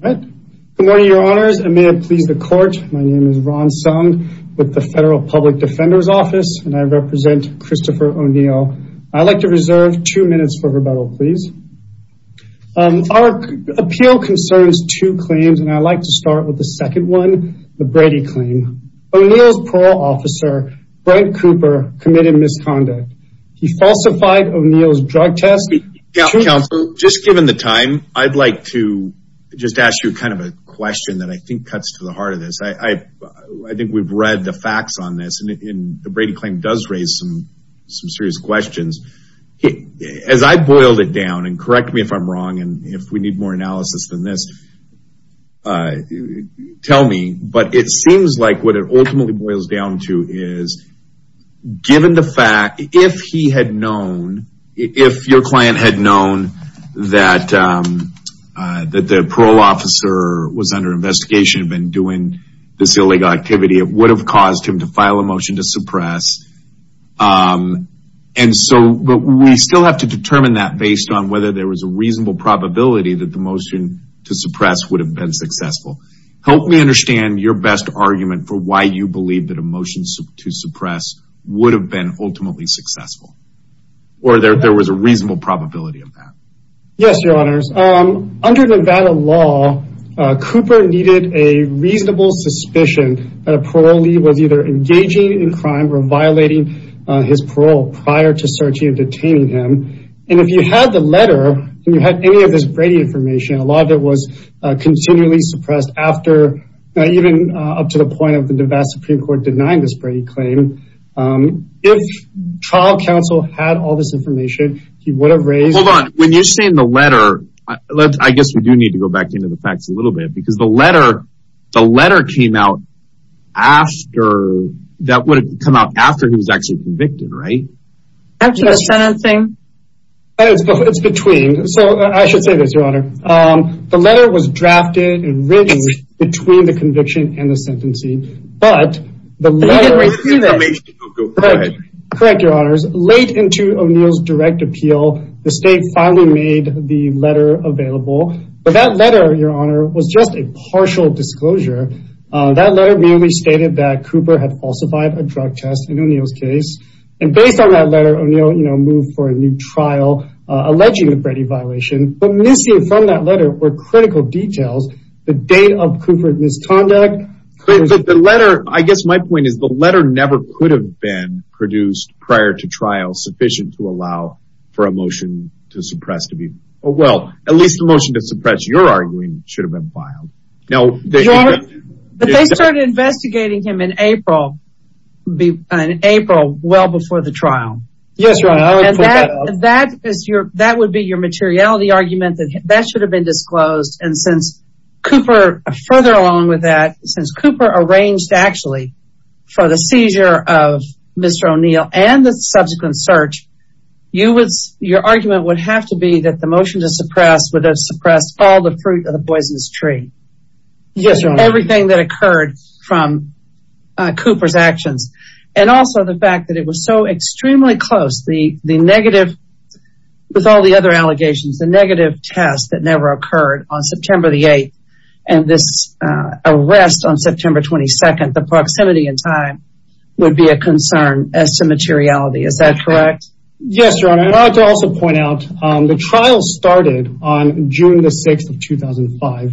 Good morning your honors and may it please the court my name is Ron Sung with the Federal Public Defender's Office and I represent Christopher O'Neill. I'd like to reserve two minutes for rebuttal please. Our appeal concerns two claims and I'd like to start with the second one the Brady claim. O'Neill's parole officer Brent Cooper committed misconduct. He falsified O'Neill's drug test. Counsel just given the time I'd like to just ask you kind of a question that I think cuts to the heart of this. I think we've read the facts on this and the Brady claim does raise some some serious questions. As I boiled it down and correct me if I'm wrong and if we need more analysis than this tell me but it seems like what it ultimately boils down to is given the fact if he had known if your client had known that that the parole officer was under investigation been doing this illegal activity it would have caused him to file a motion to suppress and so but we still have to determine that based on whether there was a reasonable probability that the motion to suppress would have been successful. Help me understand your best argument for why you believe that a motion to suppress would have been ultimately successful or there there was a reasonable probability of that. Yes your honors under Nevada law Cooper needed a reasonable suspicion that a parolee was either engaging in crime or violating his parole prior to searching and detaining him and if you had the letter and you had any of this Brady information a lot of it was continually suppressed after even up to the point of the Nevada Supreme Court denying this claim. If trial counsel had all this information he would have raised hold on when you're saying the letter let's I guess we do need to go back into the facts a little bit because the letter the letter came out after that would come out after he was actually convicted right? After the sentencing? It's between so I should say this your honor the letter was drafted and written between the correct your honors late into O'Neill's direct appeal the state finally made the letter available but that letter your honor was just a partial disclosure that letter merely stated that Cooper had falsified a drug test in O'Neill's case and based on that letter O'Neill you know moved for a new trial alleging the Brady violation but missing from that letter were critical details the date of never could have been produced prior to trial sufficient to allow for a motion to suppress to be well at least the motion to suppress your arguing should have been filed no they started investigating him in April be an April well before the trial yes that is your that would be your materiality argument that that should have been disclosed and since Cooper further along with that since Cooper arranged actually for the seizure of Mr. O'Neill and the subsequent search you would your argument would have to be that the motion to suppress would have suppressed all the fruit of the poisonous tree yes everything that occurred from Cooper's actions and also the fact that it was so extremely close the the negative with all the other allegations the negative test that never and this arrest on September 22nd the proximity in time would be a concern as to materiality is that correct yes also point out the trial started on June the 6th of 2005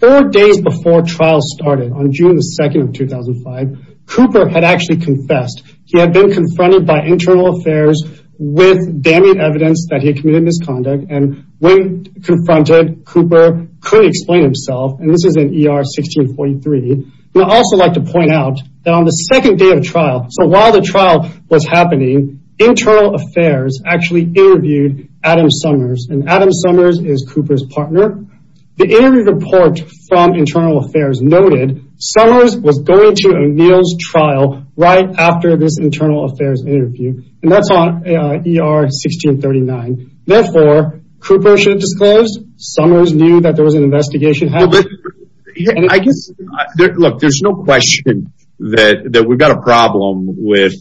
four days before trial started on June the 2nd of 2005 Cooper had actually confessed he had been confronted by internal affairs with damning evidence that he committed misconduct and when confronted Cooper could explain himself and this is an ER 1643 and I also like to point out that on the second day of trial so while the trial was happening internal affairs actually interviewed Adam Summers and Adam Summers is Cooper's partner the interview report from internal affairs noted Summers was going to O'Neill's trial right after this internal affairs interview and that's on ER 1639 therefore Cooper should disclose Summers knew that there was an investigation I guess look there's no question that that we've got a problem with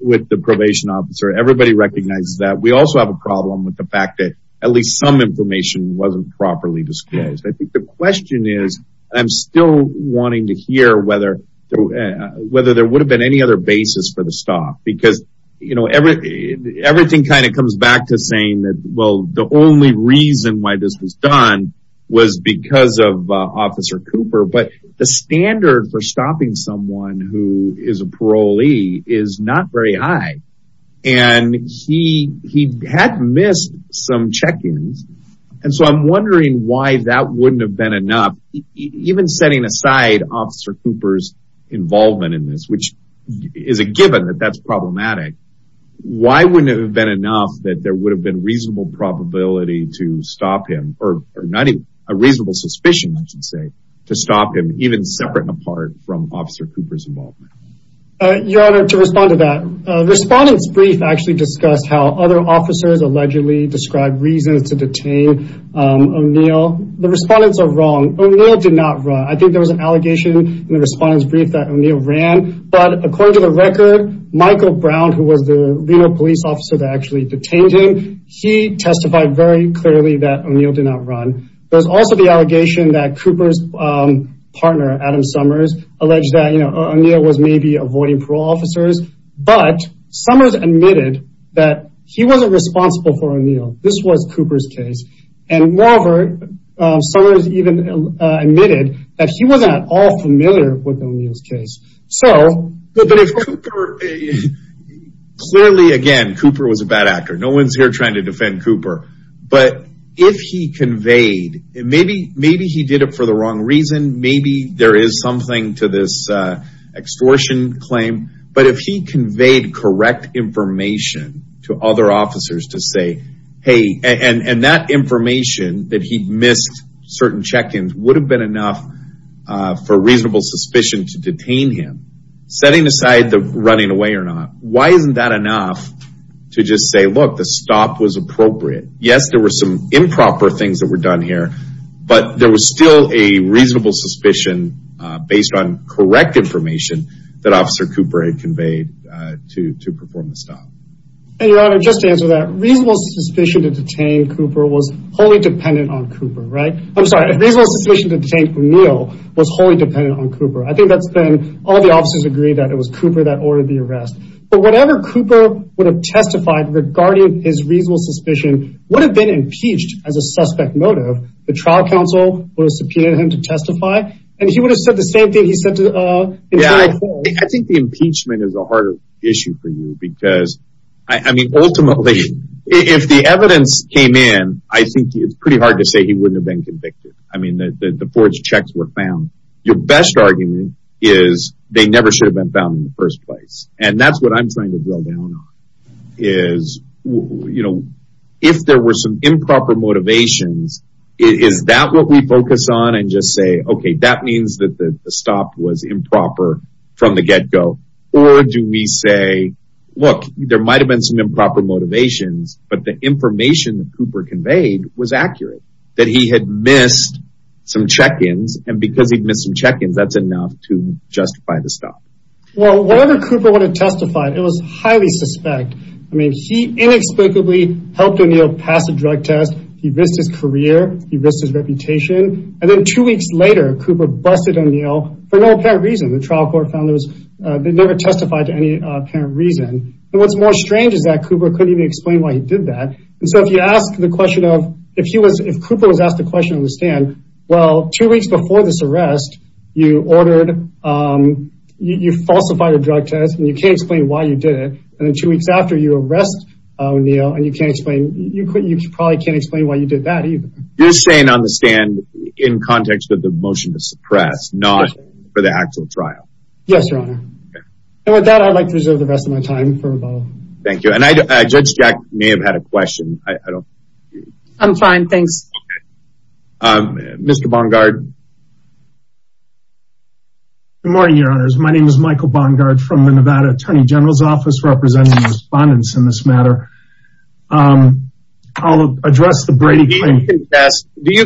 with the probation officer everybody recognizes that we also have a problem with the fact that at least some information wasn't properly disclosed I think the question is I'm still wanting to hear whether whether there would have been any other basis for the stock because you know everything everything kind of comes back to saying that well the only reason why this was done was because of officer Cooper but the standard for stopping someone who is a parolee is not very high and he he had missed some check-ins and so I'm wondering why that wouldn't have been enough even setting aside officer Cooper's involvement in this which is a given that that's problematic why wouldn't have been enough that there would have been reasonable probability to stop him or not even a reasonable suspicion I should say to stop him even separate and apart from officer Cooper's involvement your honor to respond to that respondents brief actually discussed how other officers allegedly described reasons to detain O'Neill the respondents are wrong O'Neill did not run I think there was an allegation in the respondents brief that O'Neill ran but according to the record Michael Brown who was the leader of police officers actually detained him he testified very clearly that O'Neill did not run there's also the allegation that Cooper's partner Adam Summers alleged that you know O'Neill was maybe avoiding parole officers but Summers admitted that he wasn't responsible for O'Neill this was Cooper's case and moreover Summers even admitted that he wasn't at all familiar with O'Neill's so clearly again Cooper was a bad actor no one's here trying to defend Cooper but if he conveyed it maybe maybe he did it for the wrong reason maybe there is something to this extortion claim but if he conveyed correct information to other officers to say hey and and that information that he missed certain check-ins would have been enough for reasonable suspicion to detain him setting aside the running away or not why isn't that enough to just say look the stop was appropriate yes there were some improper things that were done here but there was still a reasonable suspicion based on correct information that officer Cooper had conveyed to to perform the stop and your honor just to answer that reasonable suspicion to detain Cooper was wholly dependent on O'Neill was wholly dependent on Cooper I think that's been all the officers agreed that it was Cooper that ordered the arrest but whatever Cooper would have testified regarding his reasonable suspicion would have been impeached as a suspect motive the trial counsel was subpoenaed him to testify and he would have said the same thing he said to the I think the impeachment is a harder issue for you because I mean ultimately if the evidence came in I think it's pretty hard to say he wouldn't have been convicted I mean the forged checks were found your best argument is they never should have been found in the first place and that's what I'm trying to drill down on is you know if there were some improper motivations is that what we focus on and just say okay that means that the stop was improper from the get-go or do we say look there might have been some improper motivations but the information that Cooper conveyed was accurate that he had missed some check-ins and because he'd missed some check-ins that's enough to justify the stop well whatever Cooper would have testified it was highly suspect I mean he inexplicably helped O'Neill pass a drug test he risked his career he risked his reputation and then two weeks later Cooper busted O'Neill for no apparent reason the trial court found those they never testified to any apparent reason and what's more strange is that Cooper couldn't even explain why he did that and so if you ask the question of if he was if Cooper was asked a question on the stand well two weeks before this arrest you ordered you falsified a drug test and you can't explain why you did it and then two weeks after you arrest O'Neill and you can't explain you couldn't you probably can't explain why you did that either you're saying on the stand in context of the motion to suppress not for the actual trial yes your honor and with that I'd like to reserve the rest of my time for thank you and I judge Jack may have had a question I don't I'm fine thanks mr. Bungard good morning your honors my name is Michael Bungard from the Nevada Attorney General's Office representing respondents in this matter I'll address the Brady do you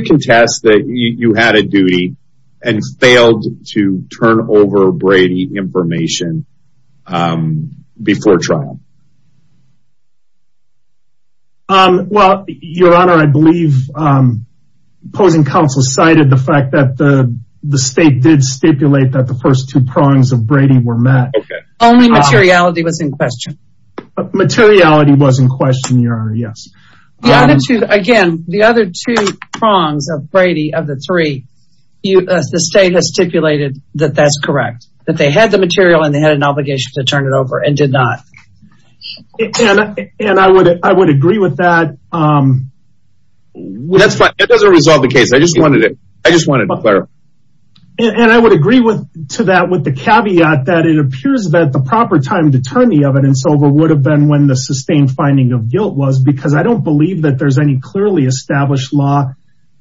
contest that you had a duty and failed to turn over Brady information before trial well your honor I believe opposing counsel cited the fact that the the state did stipulate that the first two prongs of Brady were met only materiality was in question materiality was in question your honor yes the other two again the other two prongs of Brady of the three you as the state has stipulated that that's correct that they had the material and they had an obligation to turn it over and did not and I would I would agree with that that's fine it doesn't resolve the case I just wanted it I just want to declare and I would agree with to that with the caveat that it appears that the proper time to turn the evidence over would have been when the sustained finding of guilt was because I don't believe that there's any established law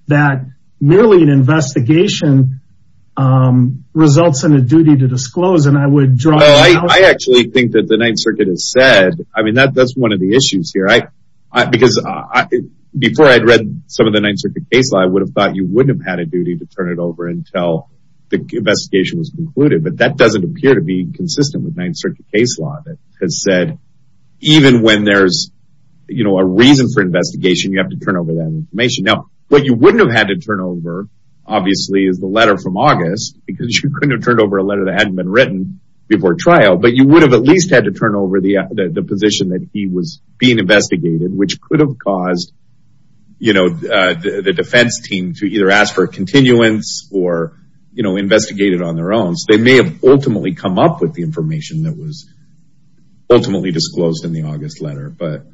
that merely an investigation results in a duty to disclose and I would draw I actually think that the Ninth Circuit has said I mean that that's one of the issues here I because I before I'd read some of the Ninth Circuit case law I would have thought you wouldn't have had a duty to turn it over until the investigation was concluded but that doesn't appear to be consistent with Ninth Circuit case law that has said even when there's you know a reason for investigation you have to turn over that information now what you wouldn't have had to turn over obviously is the letter from August because you couldn't have turned over a letter that hadn't been written before trial but you would have at least had to turn over the the position that he was being investigated which could have caused you know the defense team to either ask for a continuance or you know investigated on their own so they may have ultimately come up with the information that was ultimately disclosed in the August letter but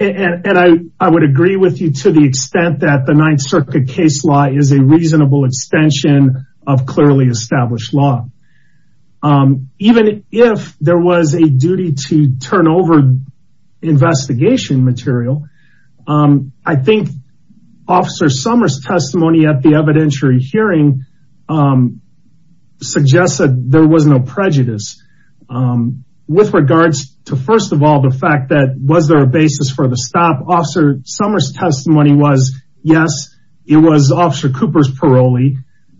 and I I would agree with you to the extent that the Ninth Circuit case law is a reasonable extension of clearly established law even if there was a duty to turn over investigation material I think officer Summers testimony at the evidentiary hearing suggests that there was no prejudice with regards to first of all the fact that was there a basis for the stop officer Summers testimony was yes it was officer Cooper's parolee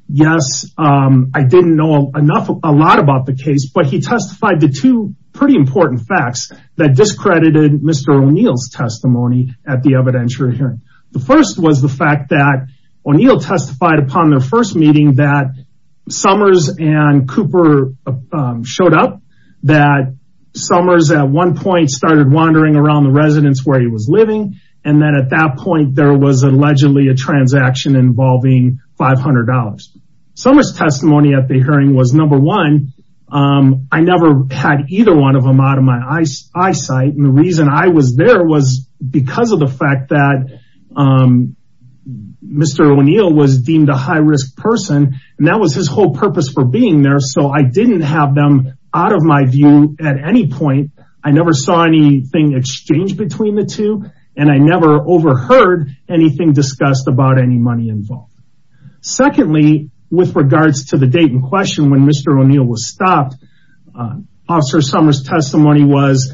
yes I didn't know enough a lot about the case but he testified the two pretty important facts that discredited mr. O'Neill's testimony at the evidentiary hearing the first was the fact that O'Neill testified upon their first meeting that Summers and Summers at one point started wandering around the residence where he was living and then at that point there was allegedly a transaction involving $500 Summers testimony at the hearing was number one I never had either one of them out of my eyes eyesight and the reason I was there was because of the fact that mr. O'Neill was deemed a high-risk person and that was his whole purpose for being there so I didn't have them out of my view at any point I never saw anything exchanged between the two and I never overheard anything discussed about any money involved secondly with regards to the date in question when mr. O'Neill was stopped officer Summers testimony was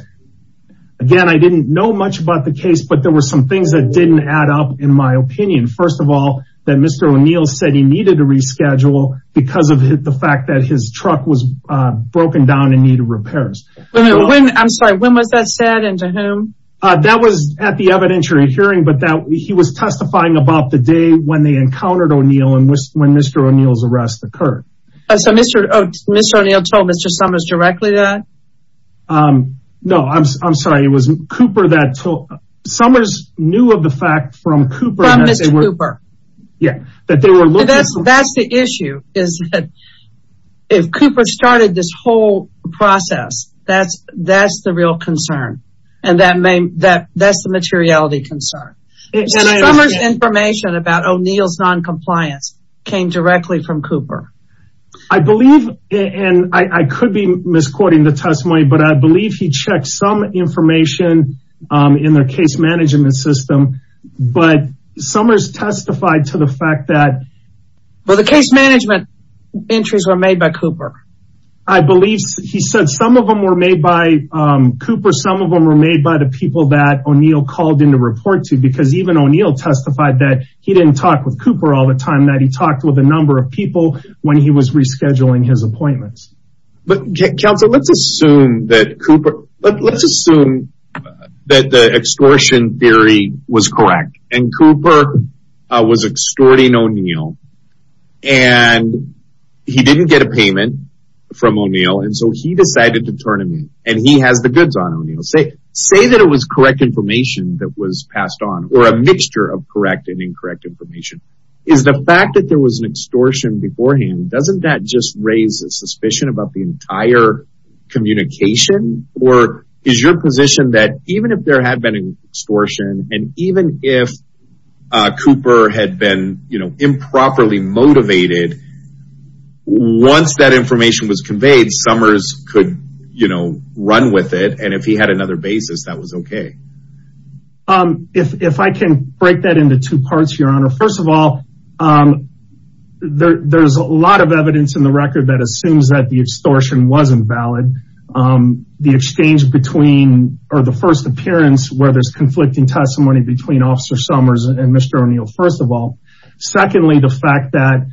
again I didn't know much about the case but there were some things that didn't add up in my opinion first of all that mr. O'Neill said he needed to reschedule because of the fact that his truck was broken down in need of repairs I'm sorry when was that said and to whom that was at the evidentiary hearing but that he was testifying about the day when they encountered O'Neill and when mr. O'Neill's arrest occurred so mr. mr. O'Neill told mr. Summers directly that no I'm sorry it wasn't Cooper that that's the issue is that if Cooper started this whole process that's that's the real concern and that may that that's the materiality concern information about O'Neill's non-compliance came directly from Cooper I believe and I could be misquoting the testimony but I believe he checked some information in Summers testified to the fact that well the case management entries were made by Cooper I believe he said some of them were made by Cooper some of them were made by the people that O'Neill called in to report to because even O'Neill testified that he didn't talk with Cooper all the time that he talked with a number of people when he was rescheduling his appointments but counsel let's assume that Cooper let's assume that the extortion theory was correct and Cooper was extorting O'Neill and he didn't get a payment from O'Neill and so he decided to turn him in and he has the goods on O'Neill say say that it was correct information that was passed on or a mixture of correct and incorrect information is the fact that there was an extortion beforehand doesn't that just raise a suspicion about the entire communication or is your position that even if there had been an extortion and even if Cooper had been you know improperly motivated once that information was conveyed Summers could you know run with it and if he had another basis that was okay if I can break that into two parts your honor first of all there's a lot of evidence in the record that assumes that the extortion wasn't valid the exchange between or the first appearance where there's conflicting testimony between officer Summers and mr. O'Neill first of all secondly the fact that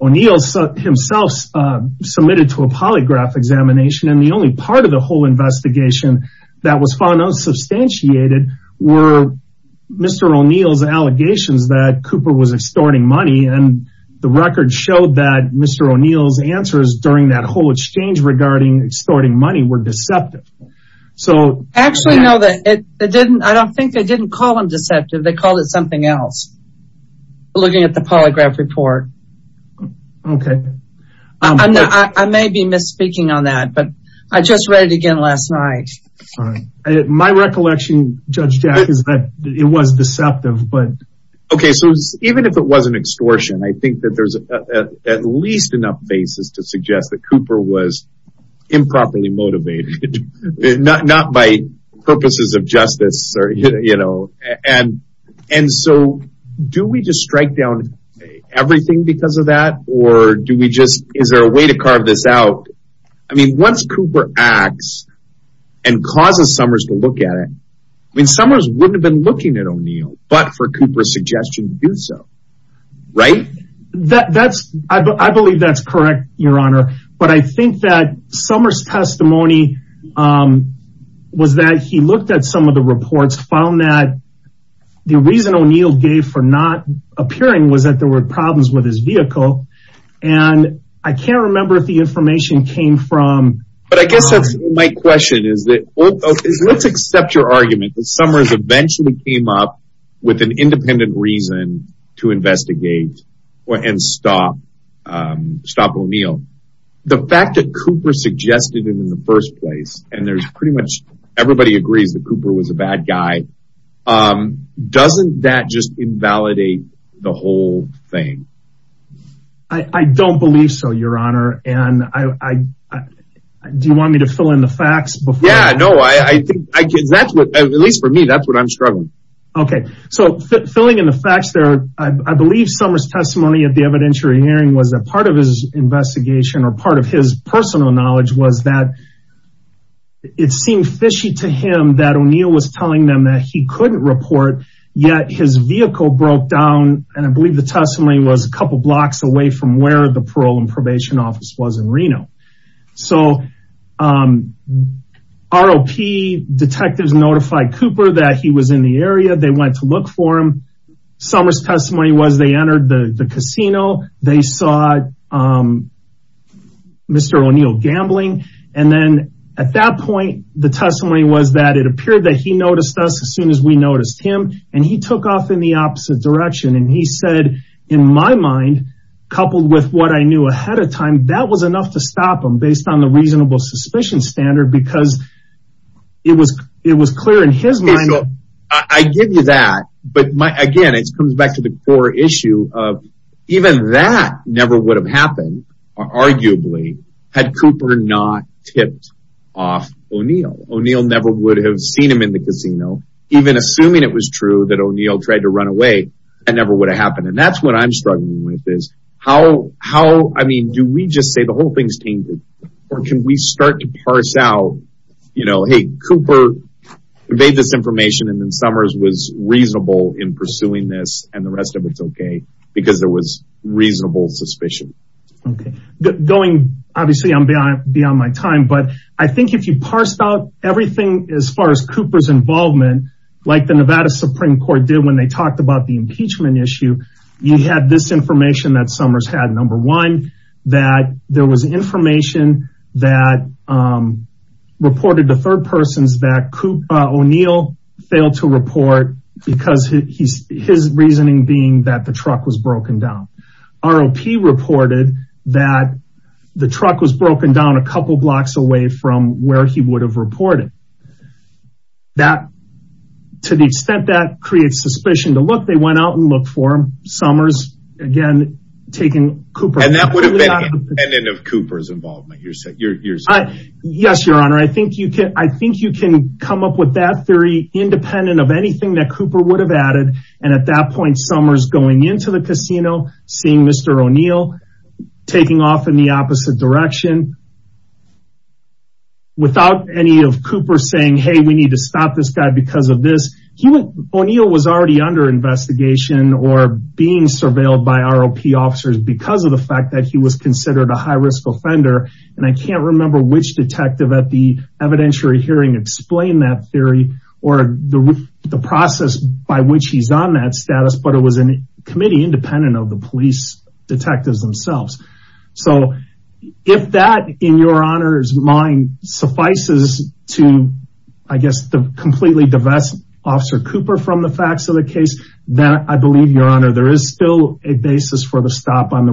O'Neill himself submitted to a polygraph examination and the only part of the whole investigation that was found unsubstantiated were mr. O'Neill's allegations that Cooper was extorting money and the record showed that mr. O'Neill's answers during that whole exchange regarding extorting money were deceptive so actually no that it didn't I don't think they didn't call him deceptive they called it something else looking at the polygraph report okay I may be misspeaking on that but I just read it again last night my recollection judge Jack is that it was deceptive but okay so even if it was an extortion I think that there's at least enough basis to suggest that Cooper was improperly not not by purposes of justice or you know and and so do we just strike down everything because of that or do we just is there a way to carve this out I mean once Cooper acts and causes Summers to look at it I mean Summers wouldn't have been looking at O'Neill but for Cooper's suggestion to do so right that that's I was that he looked at some of the reports found that the reason O'Neill gave for not appearing was that there were problems with his vehicle and I can't remember if the information came from but I guess that's my question is that let's accept your argument that Summers eventually came up with an independent reason to investigate or and stop stop O'Neill the fact that Cooper suggested it in the first place and there's pretty much everybody agrees that Cooper was a bad guy doesn't that just invalidate the whole thing I don't believe so your honor and I do you want me to fill in the facts but yeah no I think that's what at least for me that's what I'm struggling okay so filling in the facts there I believe Summers testimony at the evidentiary hearing was that part of his investigation or part of his personal knowledge was that it seemed fishy to him that O'Neill was telling them that he couldn't report yet his vehicle broke down and I believe the testimony was a couple blocks away from where the parole and probation office was in Reno so ROP detectives notified Cooper that he was in the area they went to look for him Summers testimony was they entered the casino they saw mr. O'Neill gambling and then at that point the testimony was that it appeared that he noticed us as soon as we noticed him and he took off in the opposite direction and he said in my mind coupled with what I knew ahead of time that was enough to stop him based on the reasonable suspicion standard because it was it was clear in his mind I give you but my again it comes back to the core issue of even that never would have happened arguably had Cooper not tipped off O'Neill O'Neill never would have seen him in the casino even assuming it was true that O'Neill tried to run away and never would have happened and that's what I'm struggling with is how how I mean do we just say the whole thing's tainted or can we start to parse out you in pursuing this and the rest of it's okay because there was reasonable suspicion okay going obviously I'm beyond my time but I think if you parse out everything as far as Cooper's involvement like the Nevada Supreme Court did when they talked about the impeachment issue you had this information that Summers had number one that there was information that reported the third person's that Coop O'Neill failed to report because he's his reasoning being that the truck was broken down ROP reported that the truck was broken down a couple blocks away from where he would have reported that to the extent that creates suspicion to look they went out and look for him Summers again taking Cooper and that would have been an end of Cooper's yes your honor I think you can I think you can come up with that theory independent of anything that Cooper would have added and at that point Summers going into the casino seeing mr. O'Neill taking off in the opposite direction without any of Cooper saying hey we need to stop this guy because of this he went O'Neill was already under investigation or being surveilled by ROP officers because of the fact that he was considered a high-risk offender and I can't remember which detective at the evidentiary hearing explained that theory or the process by which he's on that status but it was an committee independent of the police detectives themselves so if that in your honor's mind suffices to I guess the completely divest officer Cooper from the facts of the case that I believe your honor there is still a basis for the stop on the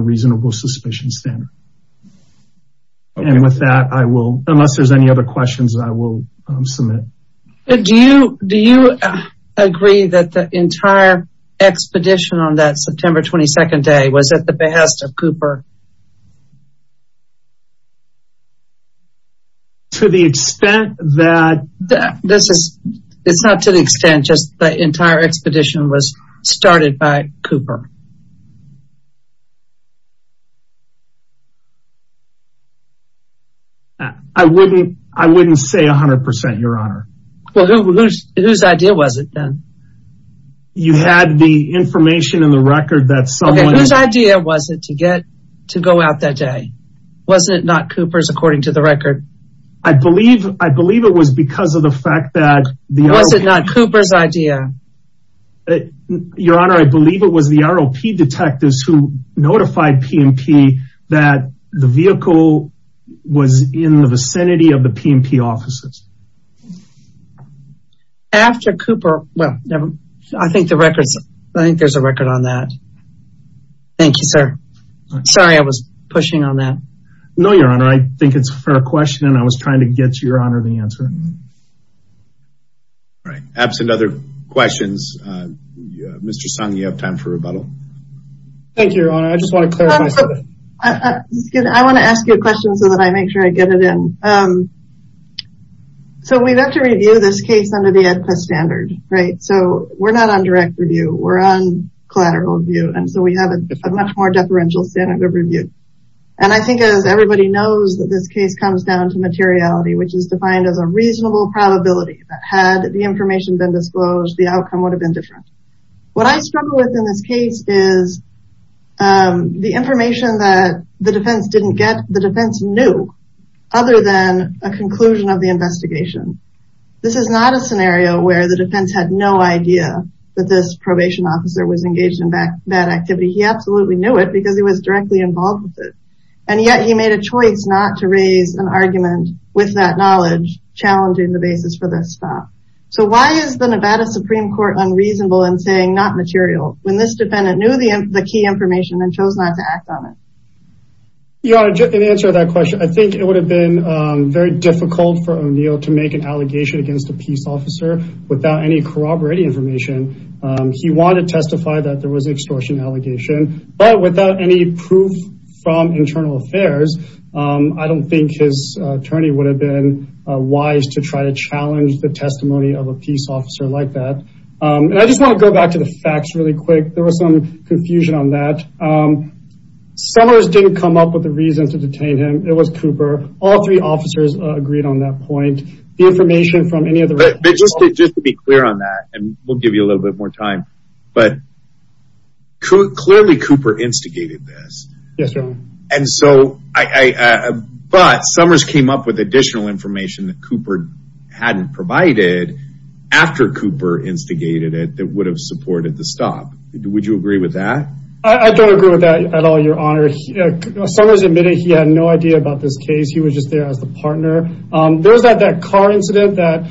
with that I will unless there's any other questions I will submit do you do you agree that the entire expedition on that September 22nd day was at the behest of Cooper to the extent that that this is it's not to the extent just the entire expedition was started by Cooper I wouldn't I wouldn't say a hundred percent your honor well whose idea was it then you had the information in the record that someone whose idea was it to get to go out that day wasn't it not Cooper's according to the record I believe I believe it was because of the fact that the was it not Cooper's idea your honor I believe it was the ROP detectives who notified PMP that the was in the vicinity of the PMP offices after Cooper well never I think the records I think there's a record on that thank you sir sorry I was pushing on that no your honor I think it's for a question and I was trying to get your honor the answer right absent other questions mr. song you have time for rebuttal thank you I just want to I want to ask you a I get it in so we've got to review this case under the Ed press standard right so we're not on direct review we're on collateral view and so we have a much more deferential standard of review and I think as everybody knows that this case comes down to materiality which is defined as a reasonable probability that had the information been disclosed the outcome would have been different what I struggle with in this case is the information that the defense didn't get the defense knew other than a conclusion of the investigation this is not a scenario where the defense had no idea that this probation officer was engaged in back that activity he absolutely knew it because he was directly involved with it and yet he made a choice not to raise an argument with that knowledge challenging the basis for this stop so why is the Nevada Supreme Court unreasonable and saying not material when this defendant knew the key information and chose not to act on it you are an answer to that question I think it would have been very difficult for O'Neill to make an allegation against a peace officer without any corroborating information he wanted to testify that there was extortion allegation but without any proof from internal affairs I don't think his attorney would have been wise to try to challenge the testimony of a peace officer like that and I just want to go back to the facts really quick there was some confusion on that Summers didn't come up with the reason to detain him it was Cooper all three officers agreed on that point the information from any other just to be clear on that and we'll give you a little bit more time but clearly Cooper instigated this yes sir and so I but Summers came up with additional information that Cooper hadn't provided after Cooper instigated it that would have supported the stop would you agree with that I don't agree with that at all your honor Summers admitted he had no idea about this case he was just there as the partner there's that that car incident that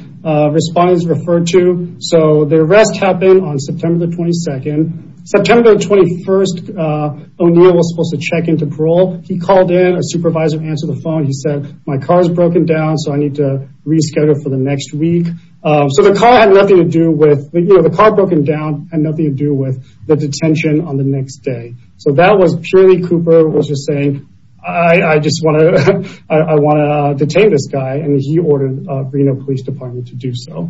respondents referred to so the arrest happened on September 22nd September 21st O'Neill was supposed to check into parole he called in a supervisor answer the phone he said my car is broken down so I need to reschedule for the next week so the car nothing to do with the car broken down and nothing to do with the detention on the next day so that was purely Cooper was just saying I I just want to I want to detain this guy and he ordered Reno Police Department to do so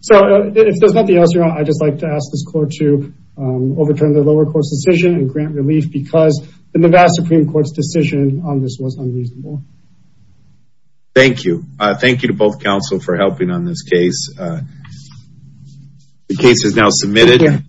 so if there's nothing else around I just like to ask this court to overturn the lower court's decision and grant relief because the Nevada Supreme Court's decision on this was unreasonable thank you thank you to both counsel for helping on this case the case is now submitted